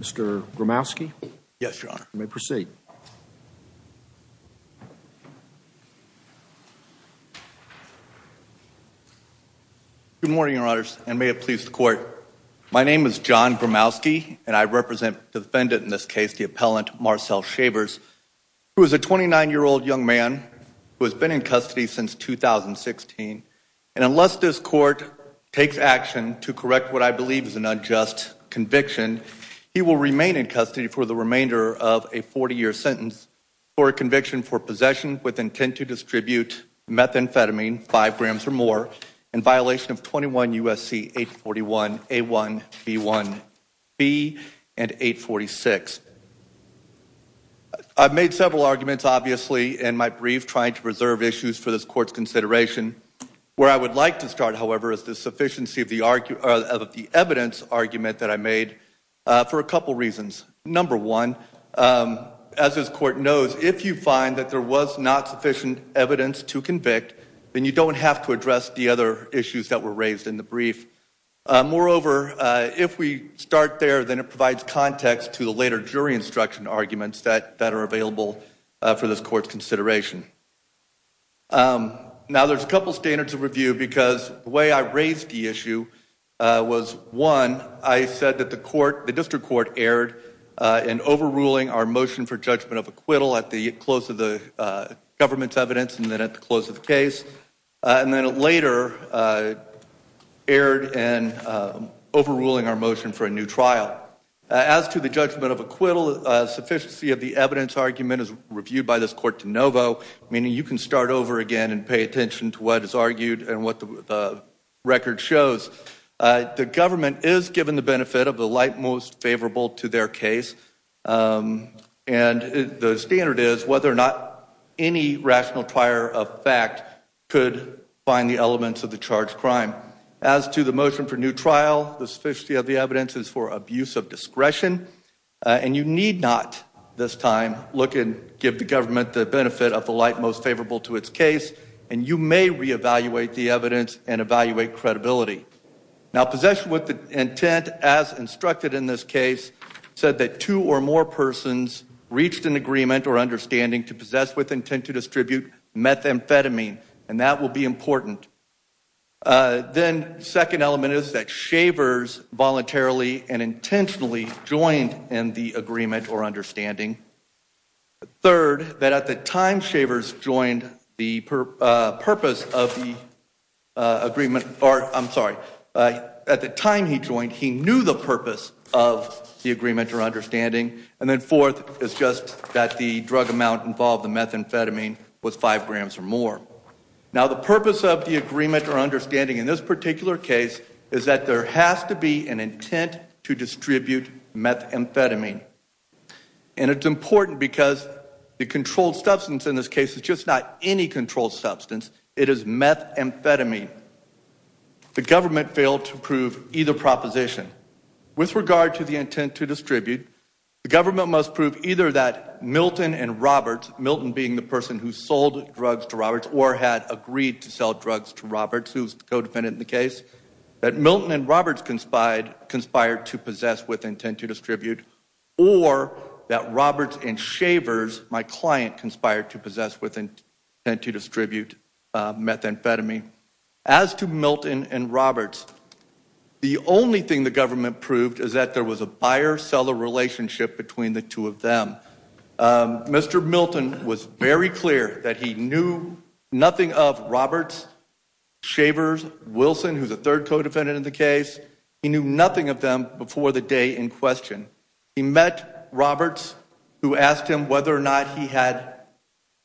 Mr. Bromowski, yes, you may proceed. Good morning, your honors, and may it please the court. My name is John Bromowski, and I represent the defendant in this case, the appellant Marcell Shavers, who is a 29-year-old young man who has been in custody since 2016. And unless this court takes action to correct what I believe is an unjust conviction, he will remain in custody for the remainder of a 40-year sentence for a conviction for possession with intent to distribute methamphetamine, 5 grams or more, in violation of 21 U.S.C. 841a1b1b and 846. I've made several arguments, obviously, in my brief trying to preserve issues for this court's consideration. Where I would like to start, however, is the sufficiency of the evidence argument that I made for a couple reasons. Number one, as this court knows, if you find that there was not sufficient evidence to convict, then you don't have to address the other issues that were raised in the brief. Moreover, if we start there, then it provides context to the later jury instruction arguments that are available for this court's consideration. Now, there's a couple standards of review because the way I raised the issue was, one, I said that the district court erred in overruling our motion for judgment of acquittal at the close of the government's evidence and then at the close of the case. And then it later erred in overruling our motion for a new trial. As to the judgment of acquittal, sufficiency of the evidence argument is reviewed by this court de novo, meaning you can start over again and pay attention to what is argued and what the record shows. The government is given the benefit of the light most favorable to their case, and the standard is whether or not any rational prior of fact could find the elements of the charged crime. As to the motion for new trial, the sufficiency of the evidence is for abuse of discretion, and you need not this time look and give the government the benefit of the light most favorable to its case, and you may reevaluate the evidence and evaluate credibility. Now, possession with intent as instructed in this case said that two or more persons reached an agreement or understanding to possess with intent to distribute methamphetamine, and that will be important. Then second element is that Shavers voluntarily and intentionally joined in the agreement or understanding. Third, that at the time Shavers joined, the purpose of the agreement, or I'm sorry, at the time he joined, he knew the purpose of the agreement or understanding. And then fourth is just that the drug amount involved in methamphetamine was five grams or more. Now, the purpose of the agreement or understanding in this particular case is that there has to be an intent to distribute methamphetamine. And it's important because the controlled substance in this case is just not any controlled substance. It is methamphetamine. The government failed to prove either proposition. With regard to the intent to distribute, the government must prove either that Milton and Roberts, Milton being the person who sold drugs to Roberts or had agreed to sell drugs to Roberts, who's co-defendant in the case, that Milton and Roberts conspired to possess with intent to distribute, or that Roberts and Shavers, my client, conspired to possess with intent to distribute methamphetamine. As to Milton and Roberts, the only thing the government proved is that there was a buyer-seller relationship between the two of them. Mr. Milton was very clear that he knew nothing of Roberts, Shavers, Wilson, who's a third co-defendant in the case. He knew nothing of them before the day in question. He met Roberts, who asked him whether or not he had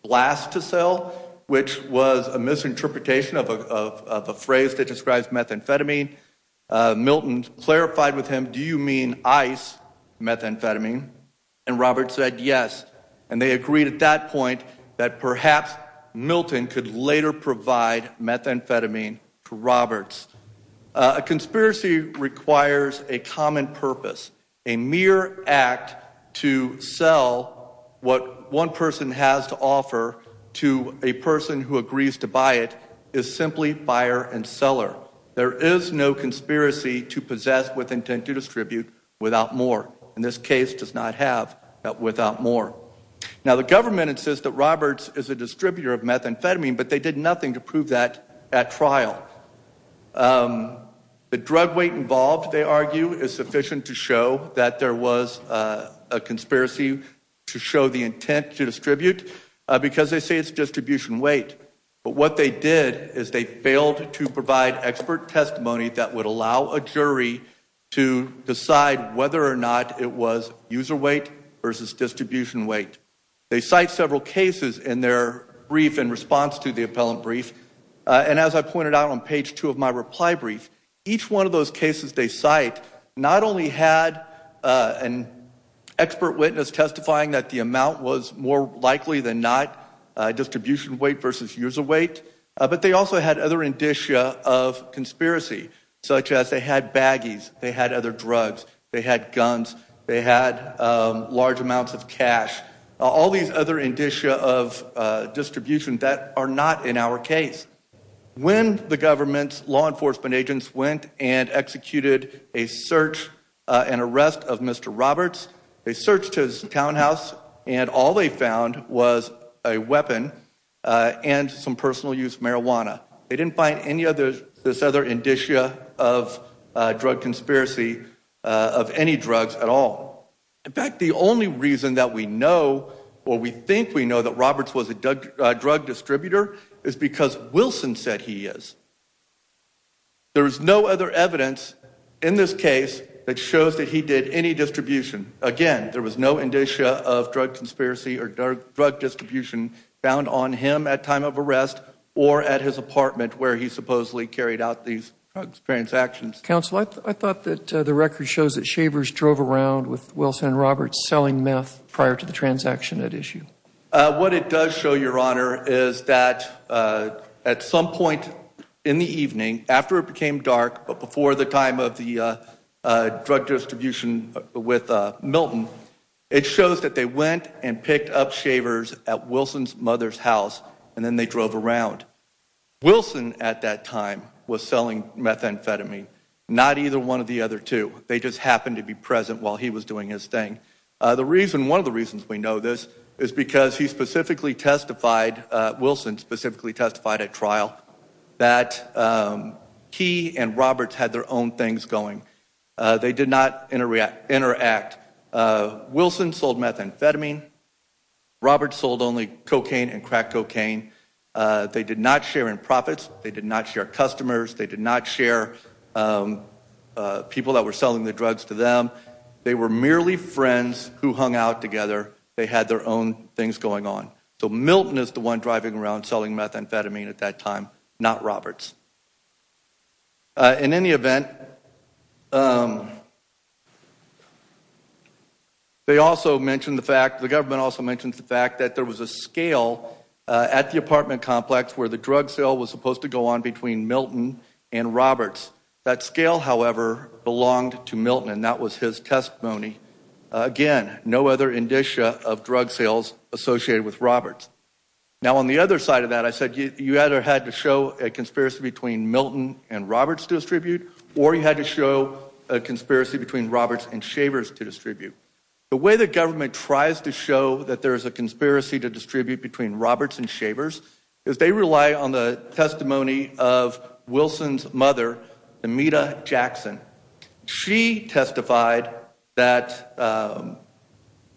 blast to sell, which was a misinterpretation of a phrase that describes methamphetamine. Milton clarified with him, do you mean ice methamphetamine? And Roberts said yes. And they agreed at that point that perhaps Milton could later provide methamphetamine to Roberts. A conspiracy requires a common purpose. A mere act to sell what one person has to offer to a person who agrees to buy it is simply buyer and seller. There is no conspiracy to possess with intent to distribute without more. And this case does not have that without more. Now, the government insists that Roberts is a distributor of methamphetamine, but they did nothing to prove that at trial. The drug weight involved, they argue, is sufficient to show that there was a conspiracy to show the intent to distribute because they say it's distribution weight. But what they did is they failed to provide expert testimony that would allow a jury to decide whether or not it was user weight versus distribution weight. They cite several cases in their brief in response to the appellant brief. And as I pointed out on page two of my reply brief, each one of those cases they cite not only had an expert witness testifying that the amount was more likely than not distribution weight versus user weight, but they also had other indicia of conspiracy such as they had baggies, they had other drugs, they had guns, they had large amounts of cash. All these other indicia of distribution that are not in our case. When the government's law enforcement agents went and executed a search and arrest of Mr. Roberts, they searched his townhouse and all they found was a weapon and some personal use marijuana. They didn't find any of this other indicia of drug conspiracy of any drugs at all. In fact, the only reason that we know or we think we know that Roberts was a drug distributor is because Wilson said he is. There is no other evidence in this case that shows that he did any distribution. Again, there was no indicia of drug conspiracy or drug distribution found on him at time of arrest or at his apartment where he supposedly carried out these transactions. Counsel, I thought that the record shows that Shavers drove around with Wilson and Roberts selling meth prior to the transaction at issue. What it does show, Your Honor, is that at some point in the evening, after it became dark, but before the time of the drug distribution with Milton, it shows that they went and picked up Shavers at Wilson's mother's house and then they drove around. Wilson at that time was selling methamphetamine, not either one of the other two. They just happened to be present while he was doing his thing. The reason, one of the reasons we know this is because he specifically testified, Wilson specifically testified at trial that he and Roberts had their own things going. They did not interact. Wilson sold methamphetamine. Roberts sold only cocaine and crack cocaine. They did not share in profits. They did not share customers. They did not share people that were selling the drugs to them. They were merely friends who hung out together. They had their own things going on. So Milton is the one driving around selling methamphetamine at that time, not Roberts. In any event, they also mentioned the fact, the government also mentioned the fact that there was a scale at the apartment complex where the drug sale was supposed to go on between Milton and Roberts. That scale, however, belonged to Milton and that was his testimony. Again, no other indicia of drug sales associated with Roberts. Now on the other side of that, I said you either had to show a conspiracy between Milton and Roberts to distribute or you had to show a conspiracy between Roberts and Shavers to distribute. The way the government tries to show that there is a conspiracy to distribute between Roberts and Shavers is they rely on the testimony of Wilson's mother, Amita Jackson. She testified that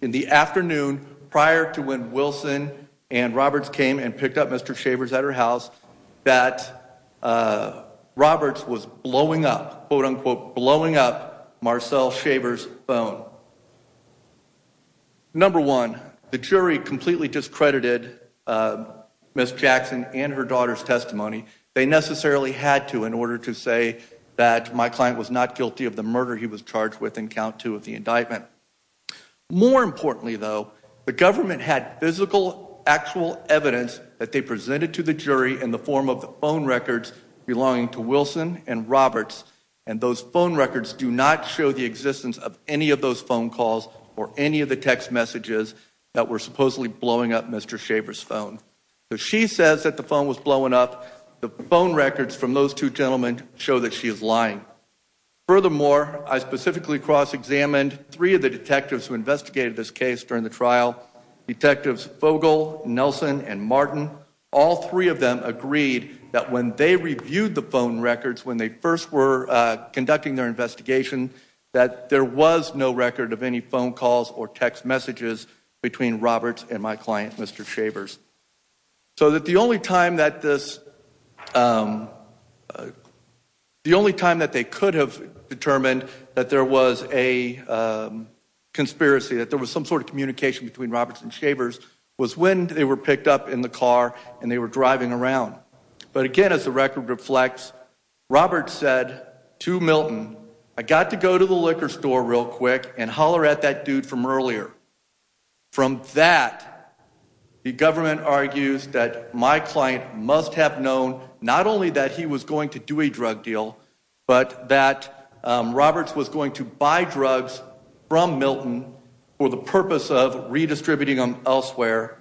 in the afternoon prior to when Wilson and Roberts came and picked up Mr. Shavers at her house that Roberts was blowing up, quote unquote, blowing up Marcel Shavers' phone. Number one, the jury completely discredited Ms. Jackson and her daughter's testimony. They necessarily had to in order to say that my client was not guilty of the murder he was charged with in count two of the indictment. More importantly, though, the government had physical, actual evidence that they presented to the jury in the form of the phone records belonging to Wilson and Roberts. And those phone records do not show the existence of any of those phone calls or any of the text messages that were supposedly blowing up Mr. Shavers' phone. So she says that the phone was blowing up. The phone records from those two gentlemen show that she is lying. Furthermore, I specifically cross-examined three of the detectives who investigated this case during the trial. Detectives Fogle, Nelson, and Martin, all three of them agreed that when they reviewed the phone records when they first were conducting their investigation, that there was no record of any phone calls or text messages between Roberts and my client, Mr. Shavers. So that the only time that this, the only time that they could have determined that there was a conspiracy, that there was some sort of communication between Roberts and Shavers, was when they were picked up in the car and they were driving around. But again, as the record reflects, Roberts said to Milton, I got to go to the liquor store real quick and holler at that dude from earlier. From that, the government argues that my client must have known not only that he was going to do a drug deal, but that Roberts was going to buy drugs from Milton for the purpose of redistributing them elsewhere.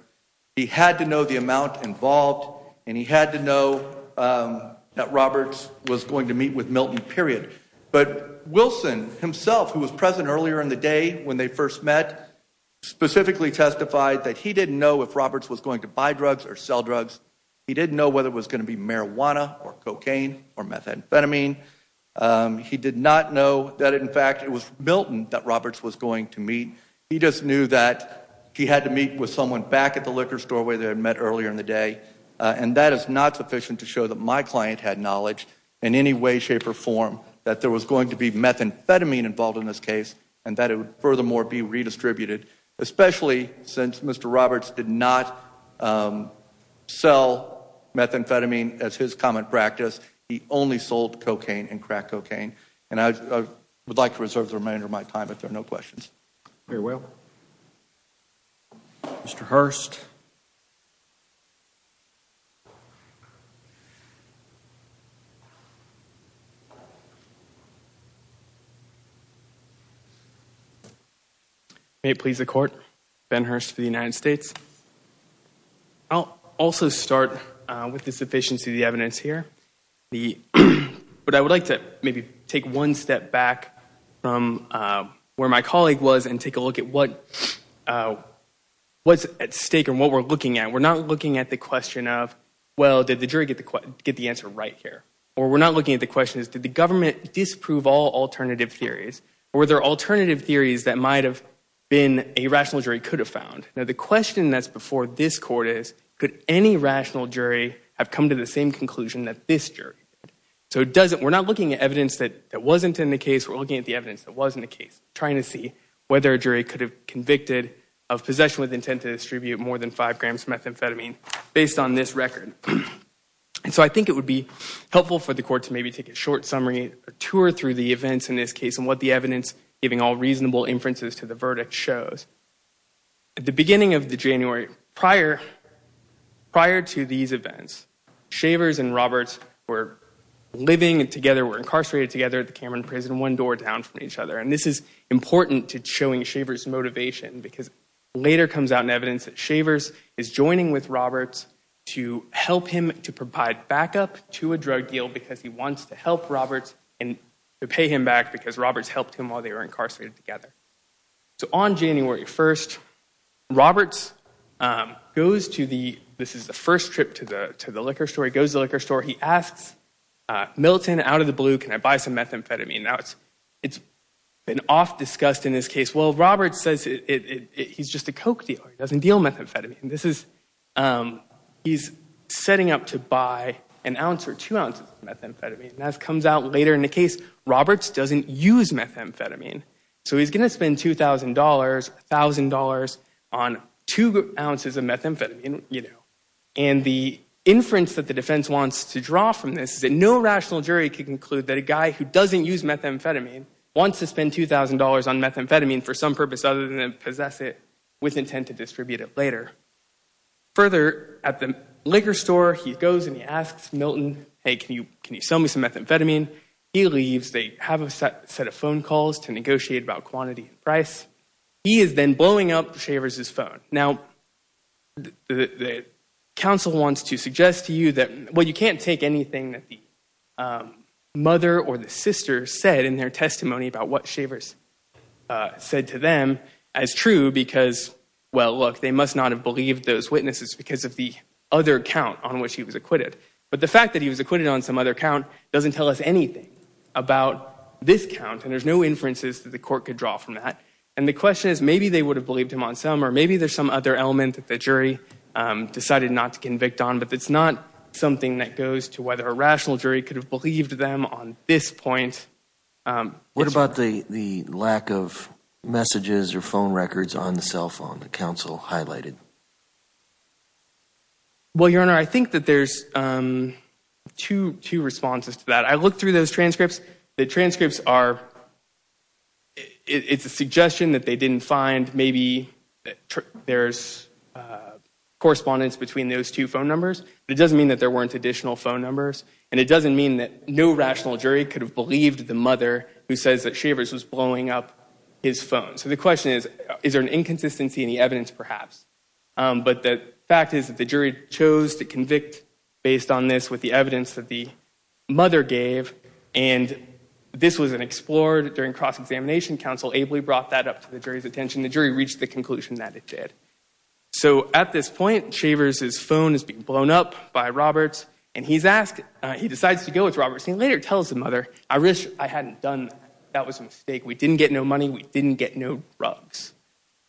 He had to know the amount involved and he had to know that Roberts was going to meet with Milton, period. But Wilson himself, who was present earlier in the day when they first met, specifically testified that he didn't know if Roberts was going to buy drugs or sell drugs. He didn't know whether it was going to be marijuana or cocaine or methamphetamine. He did not know that, in fact, it was Milton that Roberts was going to meet. He just knew that he had to meet with someone back at the liquor store where they had met earlier in the day. And that is not sufficient to show that my client had knowledge in any way, shape, or form that there was going to be methamphetamine involved in this case and that it would furthermore be redistributed, especially since Mr. Roberts did not sell methamphetamine as his common practice. He only sold cocaine and crack cocaine. And I would like to reserve the remainder of my time if there are no questions. Very well. Mr. Hurst. May it please the Court, Ben Hurst for the United States. I'll also start with the sufficiency of the evidence here. But I would like to maybe take one step back from where my colleague was and take a look at what's at stake and what we're looking at. We're not looking at the question of, well, did the jury get the answer right here? Or we're not looking at the question, did the government disprove all alternative theories? Or were there alternative theories that might have been a rational jury could have found? Now the question that's before this Court is, could any rational jury have come to the same conclusion that this jury did? So we're not looking at evidence that wasn't in the case. We're looking at the evidence that was in the case, trying to see whether a jury could have convicted of possession with intent to distribute more than five grams of methamphetamine based on this record. And so I think it would be helpful for the Court to maybe take a short summary, a tour through the events in this case and what the evidence, giving all reasonable inferences to the verdict, shows. At the beginning of January, prior to these events, Shavers and Roberts were living together, were incarcerated together at the Cameron Prison, one door down from each other. And this is important to showing Shavers' motivation because later comes out in evidence that Shavers is joining with Roberts to help him to provide backup to a drug deal because he wants to help Roberts and to pay him back because Roberts helped him while they were incarcerated together. So on January 1st, Roberts goes to the, this is the first trip to the liquor store. He goes to the liquor store. He asks Milton out of the blue, can I buy some methamphetamine? Now, it's been oft discussed in this case. Well, Roberts says he's just a coke dealer. He doesn't deal methamphetamine. This is, he's setting up to buy an ounce or two ounces of methamphetamine. And as comes out later in the case, Roberts doesn't use methamphetamine. So he's going to spend $2,000, $1,000 on two ounces of methamphetamine, you know. And the inference that the defense wants to draw from this is that no rational jury can conclude that a guy who doesn't use methamphetamine wants to spend $2,000 on methamphetamine for some purpose other than possess it with intent to distribute it later. Further, at the liquor store, he goes and he asks Milton, hey, can you sell me some methamphetamine? He leaves. They have a set of phone calls to negotiate about quantity and price. He is then blowing up Shavers' phone. Now, the counsel wants to suggest to you that, well, you can't take anything that the mother or the sister said in their testimony about what Shavers said to them as true because, well, look, they must not have believed those witnesses because of the other count on which he was acquitted. But the fact that he was acquitted on some other count doesn't tell us anything about this count, and there's no inferences that the court could draw from that. And the question is maybe they would have believed him on some, or maybe there's some other element that the jury decided not to convict on, but it's not something that goes to whether a rational jury could have believed them on this point. What about the lack of messages or phone records on the cell phone that counsel highlighted? Well, Your Honor, I think that there's two responses to that. I looked through those transcripts. The transcripts are, it's a suggestion that they didn't find maybe there's correspondence between those two phone numbers, but it doesn't mean that there weren't additional phone numbers, and it doesn't mean that no rational jury could have believed the mother who says that Shavers was blowing up his phone. So the question is, is there an inconsistency in the evidence perhaps? But the fact is that the jury chose to convict based on this with the evidence that the mother gave, and this was explored during cross-examination. Counsel ably brought that up to the jury's attention. The jury reached the conclusion that it did. So at this point, Shavers' phone is being blown up by Roberts, and he's asked, he decides to go with Roberts. He later tells the mother, I wish I hadn't done that. That was a mistake. We didn't get no money. We didn't get no drugs,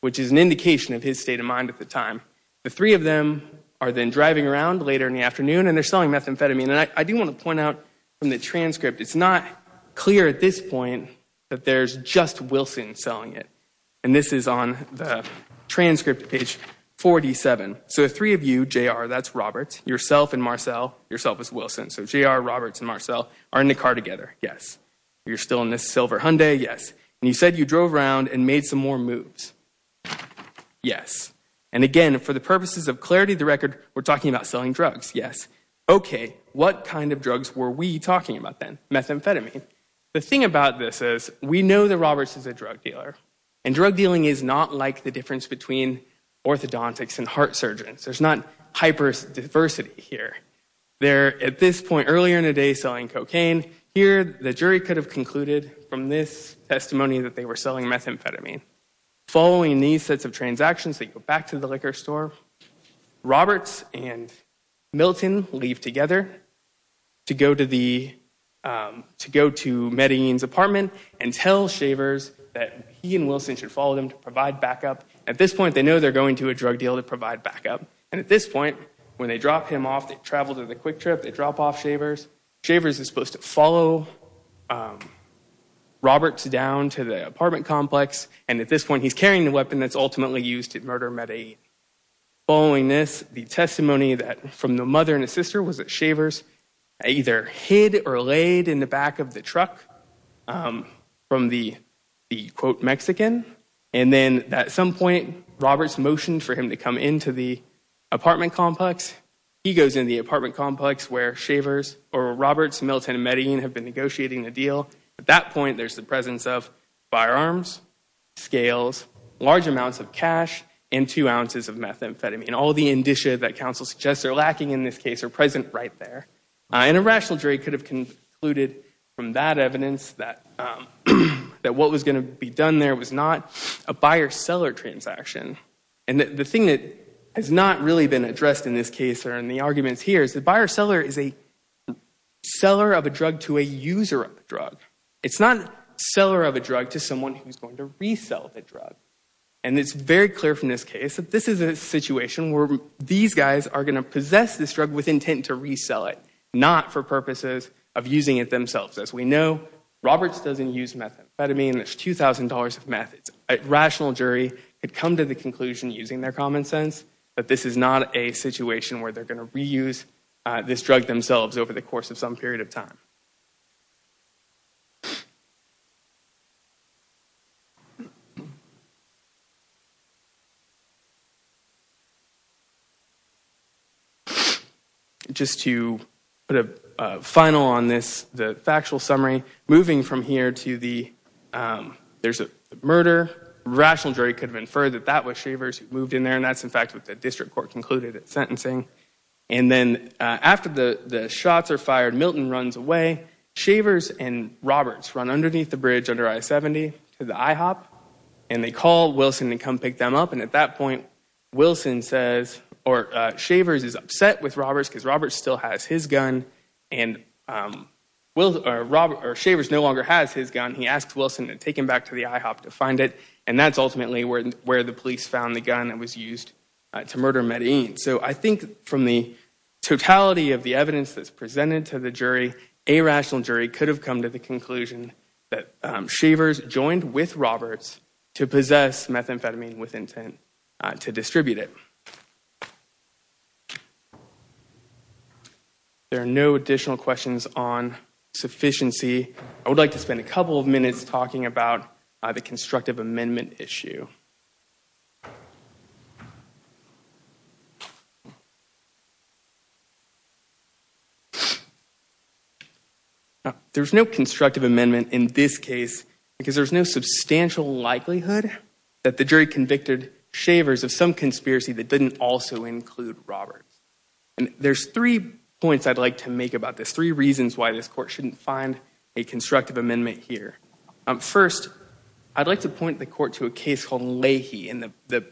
which is an indication of his state of mind at the time. The three of them are then driving around later in the afternoon, and they're selling methamphetamine. And I do want to point out from the transcript, it's not clear at this point that there's just Wilson selling it. And this is on the transcript, page 47. So the three of you, JR, that's Roberts, yourself and Marcel, yourself is Wilson. So JR, Roberts, and Marcel are in the car together, yes. You're still in this silver Hyundai, yes. And you said you drove around and made some more moves, yes. And again, for the purposes of clarity of the record, we're talking about selling drugs, yes. Okay, what kind of drugs were we talking about then? Methamphetamine. The thing about this is we know that Roberts is a drug dealer, and drug dealing is not like the difference between orthodontics and heart surgeons. There's not hyper-diversity here. They're at this point earlier in the day selling cocaine. Here, the jury could have concluded from this testimony that they were selling methamphetamine. Following these sets of transactions, they go back to the liquor store. Roberts and Milton leave together to go to Medellin's apartment and tell Shavers that he and Wilson should follow them to provide backup. At this point, they know they're going to a drug deal to provide backup. And at this point, when they drop him off, they travel to the quick trip, they drop off Shavers. Shavers is supposed to follow Roberts down to the apartment complex. And at this point, he's carrying the weapon that's ultimately used to murder Medellin. Following this, the testimony from the mother and the sister was that Shavers either hid or laid in the back of the truck from the, quote, Mexican. And then at some point, Roberts motioned for him to come into the apartment complex. He goes into the apartment complex where Shavers or Roberts, Milton, and Medellin have been negotiating the deal. At that point, there's the presence of firearms, scales, large amounts of cash, and two ounces of methamphetamine. And all the indicia that counsel suggests are lacking in this case are present right there. And a rational jury could have concluded from that evidence that what was going to be done there was not a buyer-seller transaction. And the thing that has not really been addressed in this case or in the arguments here is the buyer-seller is a seller of a drug to a user of a drug. It's not seller of a drug to someone who's going to resell the drug. And it's very clear from this case that this is a situation where these guys are going to possess this drug with intent to resell it, not for purposes of using it themselves. As we know, Roberts doesn't use methamphetamine. It's $2,000 of meth. A rational jury could come to the conclusion using their common sense that this is not a situation where they're going to reuse this drug themselves over the course of some period of time. Just to put a final on this, the factual summary, moving from here to the, there's a murder. A rational jury could have inferred that that was Shavers who moved in there, and that's in fact what the district court concluded at sentencing. And then after the shots are fired, Milton runs away. Shavers and Roberts run underneath the bridge under I-70 to the IHOP, and they call Wilson to come pick them up. And at that point, Wilson says, or Shavers is upset with Roberts because Roberts still has his gun, and Shavers no longer has his gun. He asks Wilson to take him back to the IHOP to find it, and that's ultimately where the police found the gun that was used to murder Medellin. So I think from the totality of the evidence that's presented to the jury, a rational jury could have come to the conclusion that Shavers joined with Roberts to possess methamphetamine with intent to distribute it. There are no additional questions on sufficiency. I would like to spend a couple of minutes talking about the constructive amendment issue. There's no constructive amendment in this case because there's no substantial likelihood that the jury convicted Shavers of some conspiracy that didn't also include Roberts. There's three points I'd like to make about this, three reasons why this court shouldn't find a constructive amendment here. First, I'd like to point the court to a case called Leahy, and the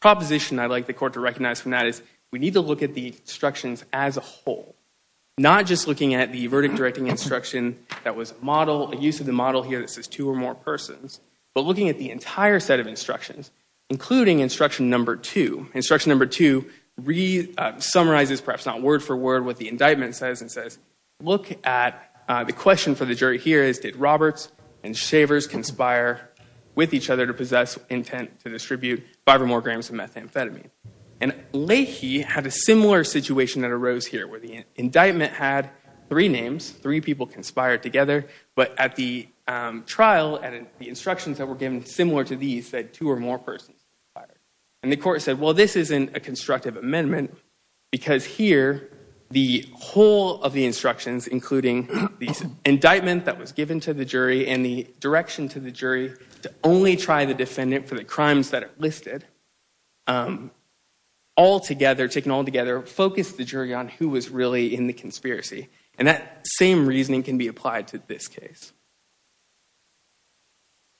proposition I'd like the court to recognize from that is we need to look at the instructions as a whole, not just looking at the verdict-directing instruction that was a model, a use of the model here that says two or more persons, but looking at the entire set of instructions, including instruction number two. Instruction number two summarizes, perhaps not word for word, what the indictment says and says, look at the question for the jury here is did Roberts and Shavers conspire with each other to possess intent to distribute five or more grams of methamphetamine? And Leahy had a similar situation that arose here where the indictment had three names, three people conspired together, but at the trial and the instructions that were given similar to these said two or more persons conspired. And the court said, well, this isn't a constructive amendment because here the whole of the instructions, including the indictment that was given to the jury and the direction to the jury to only try the defendant for the crimes that are listed, all together, taken all together, focused the jury on who was really in the conspiracy. And that same reasoning can be applied to this case.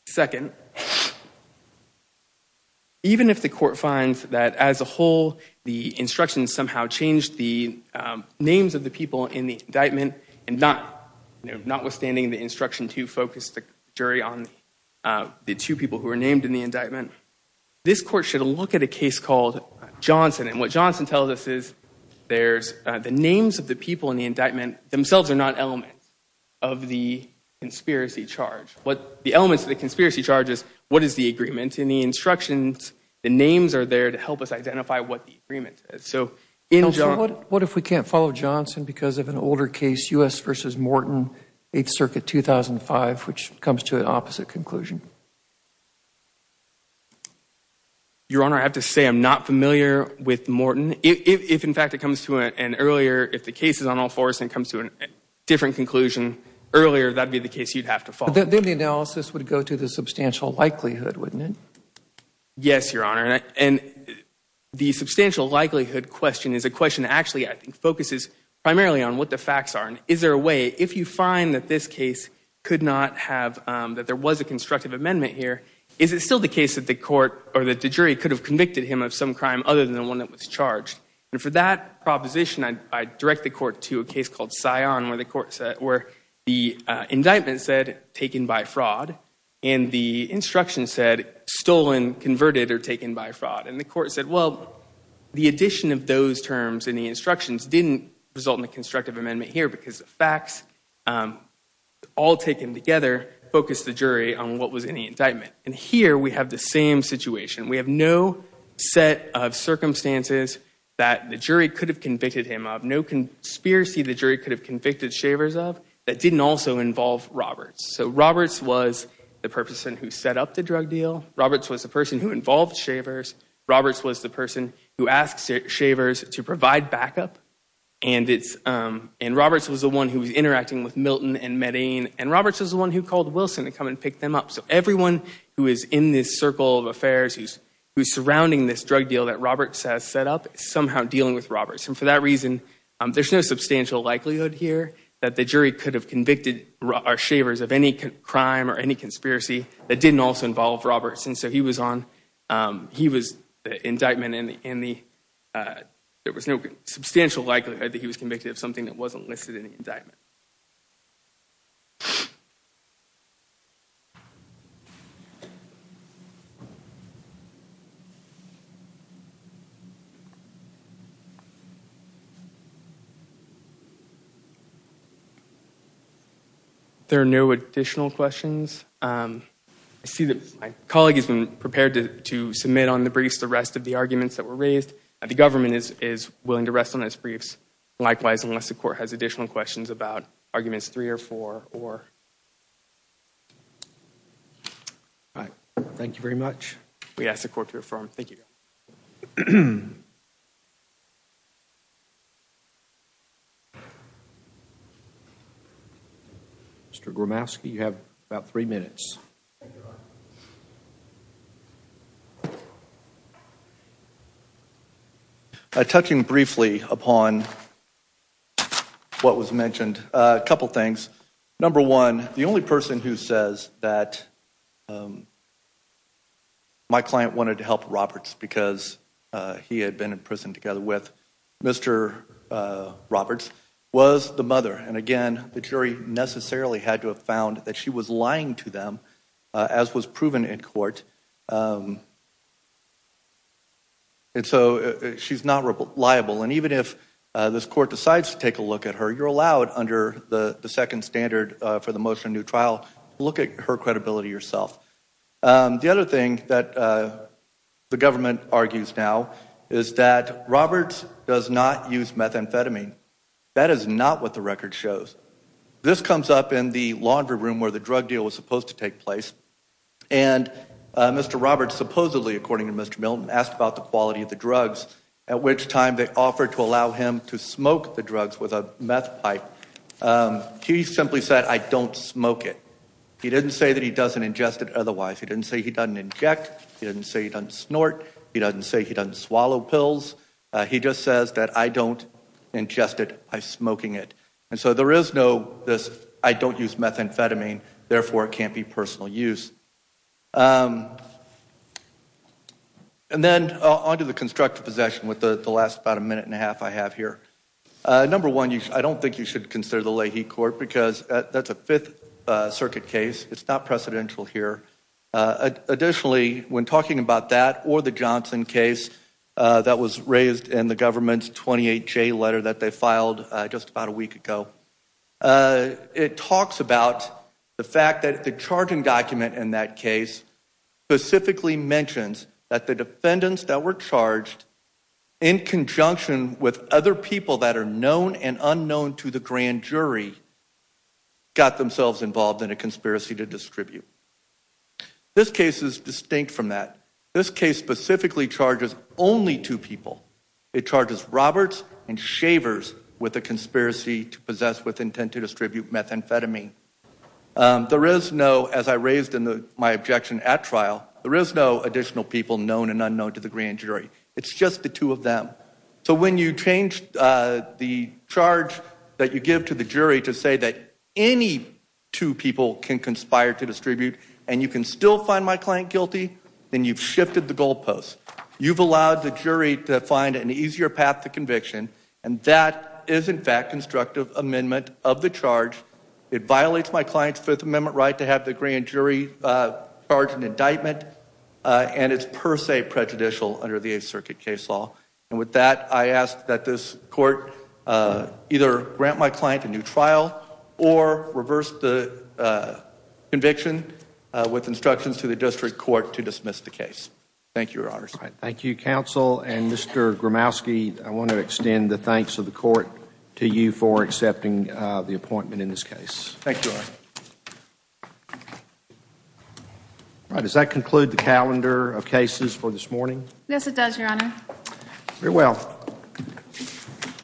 Second, even if the court finds that as a whole the instructions somehow changed the names of the people in the indictment and notwithstanding the instruction to focus the jury on the two people who were named in the indictment, this court should look at a case called Johnson. And what Johnson tells us is the names of the people in the indictment themselves are not elements of the conspiracy charge. The elements of the conspiracy charge is what is the agreement. In the instructions, the names are there to help us identify what the agreement is. So in Johnson – So what if we can't follow Johnson because of an older case, U.S. v. Morton, 8th Circuit, 2005, which comes to an opposite conclusion? Your Honor, I have to say I'm not familiar with Morton. If, in fact, it comes to an earlier – if the case is on all fours and it comes to a different conclusion earlier, that would be the case you'd have to follow. Then the analysis would go to the substantial likelihood, wouldn't it? Yes, Your Honor. And the substantial likelihood question is a question that actually, I think, focuses primarily on what the facts are. Is there a way – if you find that this case could not have – that there was a constructive amendment here, is it still the case that the court or that the jury could have convicted him of some crime other than the one that was charged? And for that proposition, I direct the court to a case called Sion where the indictment said, taken by fraud, and the instruction said, stolen, converted, or taken by fraud. And the court said, well, the addition of those terms in the instructions didn't result in a constructive amendment here because the facts, all taken together, focused the jury on what was in the indictment. And here we have the same situation. We have no set of circumstances that the jury could have convicted him of, no conspiracy the jury could have convicted Shavers of that didn't also involve Roberts. So Roberts was the person who set up the drug deal. Roberts was the person who involved Shavers. Roberts was the person who asked Shavers to provide backup. And Roberts was the one who was interacting with Milton and Medain. And Roberts was the one who called Wilson to come and pick them up. So everyone who is in this circle of affairs, who's surrounding this drug deal that Roberts has set up, is somehow dealing with Roberts. And for that reason, there's no substantial likelihood here that the jury could have convicted Shavers of any crime or any conspiracy that didn't also involve Roberts. And so he was the indictment and there was no substantial likelihood that he was convicted of something that wasn't listed in the indictment. Thank you. There are no additional questions. I see that my colleague has been prepared to submit on the briefs the rest of the arguments that were raised. The government is willing to rest on its briefs. Likewise, unless the court has additional questions about arguments three or four or... All right. Thank you very much. We ask the court to affirm. Thank you. Mr. Gromowski, you have about three minutes. Touching briefly upon what was mentioned, a couple of things. Number one, the only person who says that my client wanted to help Roberts because he had been in prison together with Mr. Roberts was the mother. And again, the jury necessarily had to have found that she was lying to them, as was proven in court. And so she's not liable. And even if this court decides to take a look at her, you're allowed under the second standard for the motion of new trial to look at her credibility yourself. The other thing that the government argues now is that Roberts does not use methamphetamine. That is not what the record shows. This comes up in the laundry room where the drug deal was supposed to take place. And Mr. Roberts supposedly, according to Mr. Milton, asked about the quality of the drugs, at which time they offered to allow him to smoke the drugs with a meth pipe. He simply said, I don't smoke it. He didn't say that he doesn't ingest it otherwise. He didn't say he doesn't inject. He didn't say he doesn't snort. He doesn't say he doesn't swallow pills. He just says that I don't ingest it by smoking it. And so there is no this, I don't use methamphetamine, therefore it can't be personal use. And then on to the constructive possession with the last about a minute and a half I have here. Number one, I don't think you should consider the Leahy court because that's a Fifth Circuit case. It's not precedential here. Additionally, when talking about that or the Johnson case that was raised in the government's 28-J letter that they filed just about a week ago, it talks about the fact that the charging document in that case specifically mentions that the defendants that were charged in conjunction with other people that are known and unknown to the grand jury got themselves involved in a conspiracy to distribute. This case is distinct from that. This case specifically charges only two people. It charges Roberts and Shavers with a conspiracy to possess with intent to distribute methamphetamine. There is no, as I raised in my objection at trial, there is no additional people known and unknown to the grand jury. It's just the two of them. So when you change the charge that you give to the jury to say that any two people can conspire to distribute and you can still find my client guilty, then you've shifted the goalposts. You've allowed the jury to find an easier path to conviction, and that is in fact constructive amendment of the charge. It violates my client's Fifth Amendment right to have the grand jury charge an indictment, and it's per se prejudicial under the Eighth Circuit case law. And with that, I ask that this court either grant my client a new trial or reverse the conviction with instructions to the district court to dismiss the case. Thank you, Your Honors. Thank you, Counsel. And, Mr. Gromowski, I want to extend the thanks of the court to you for accepting the appointment in this case. Thank you, Your Honor. Does that conclude the calendar of cases for this morning? Yes, it does, Your Honor. Very well.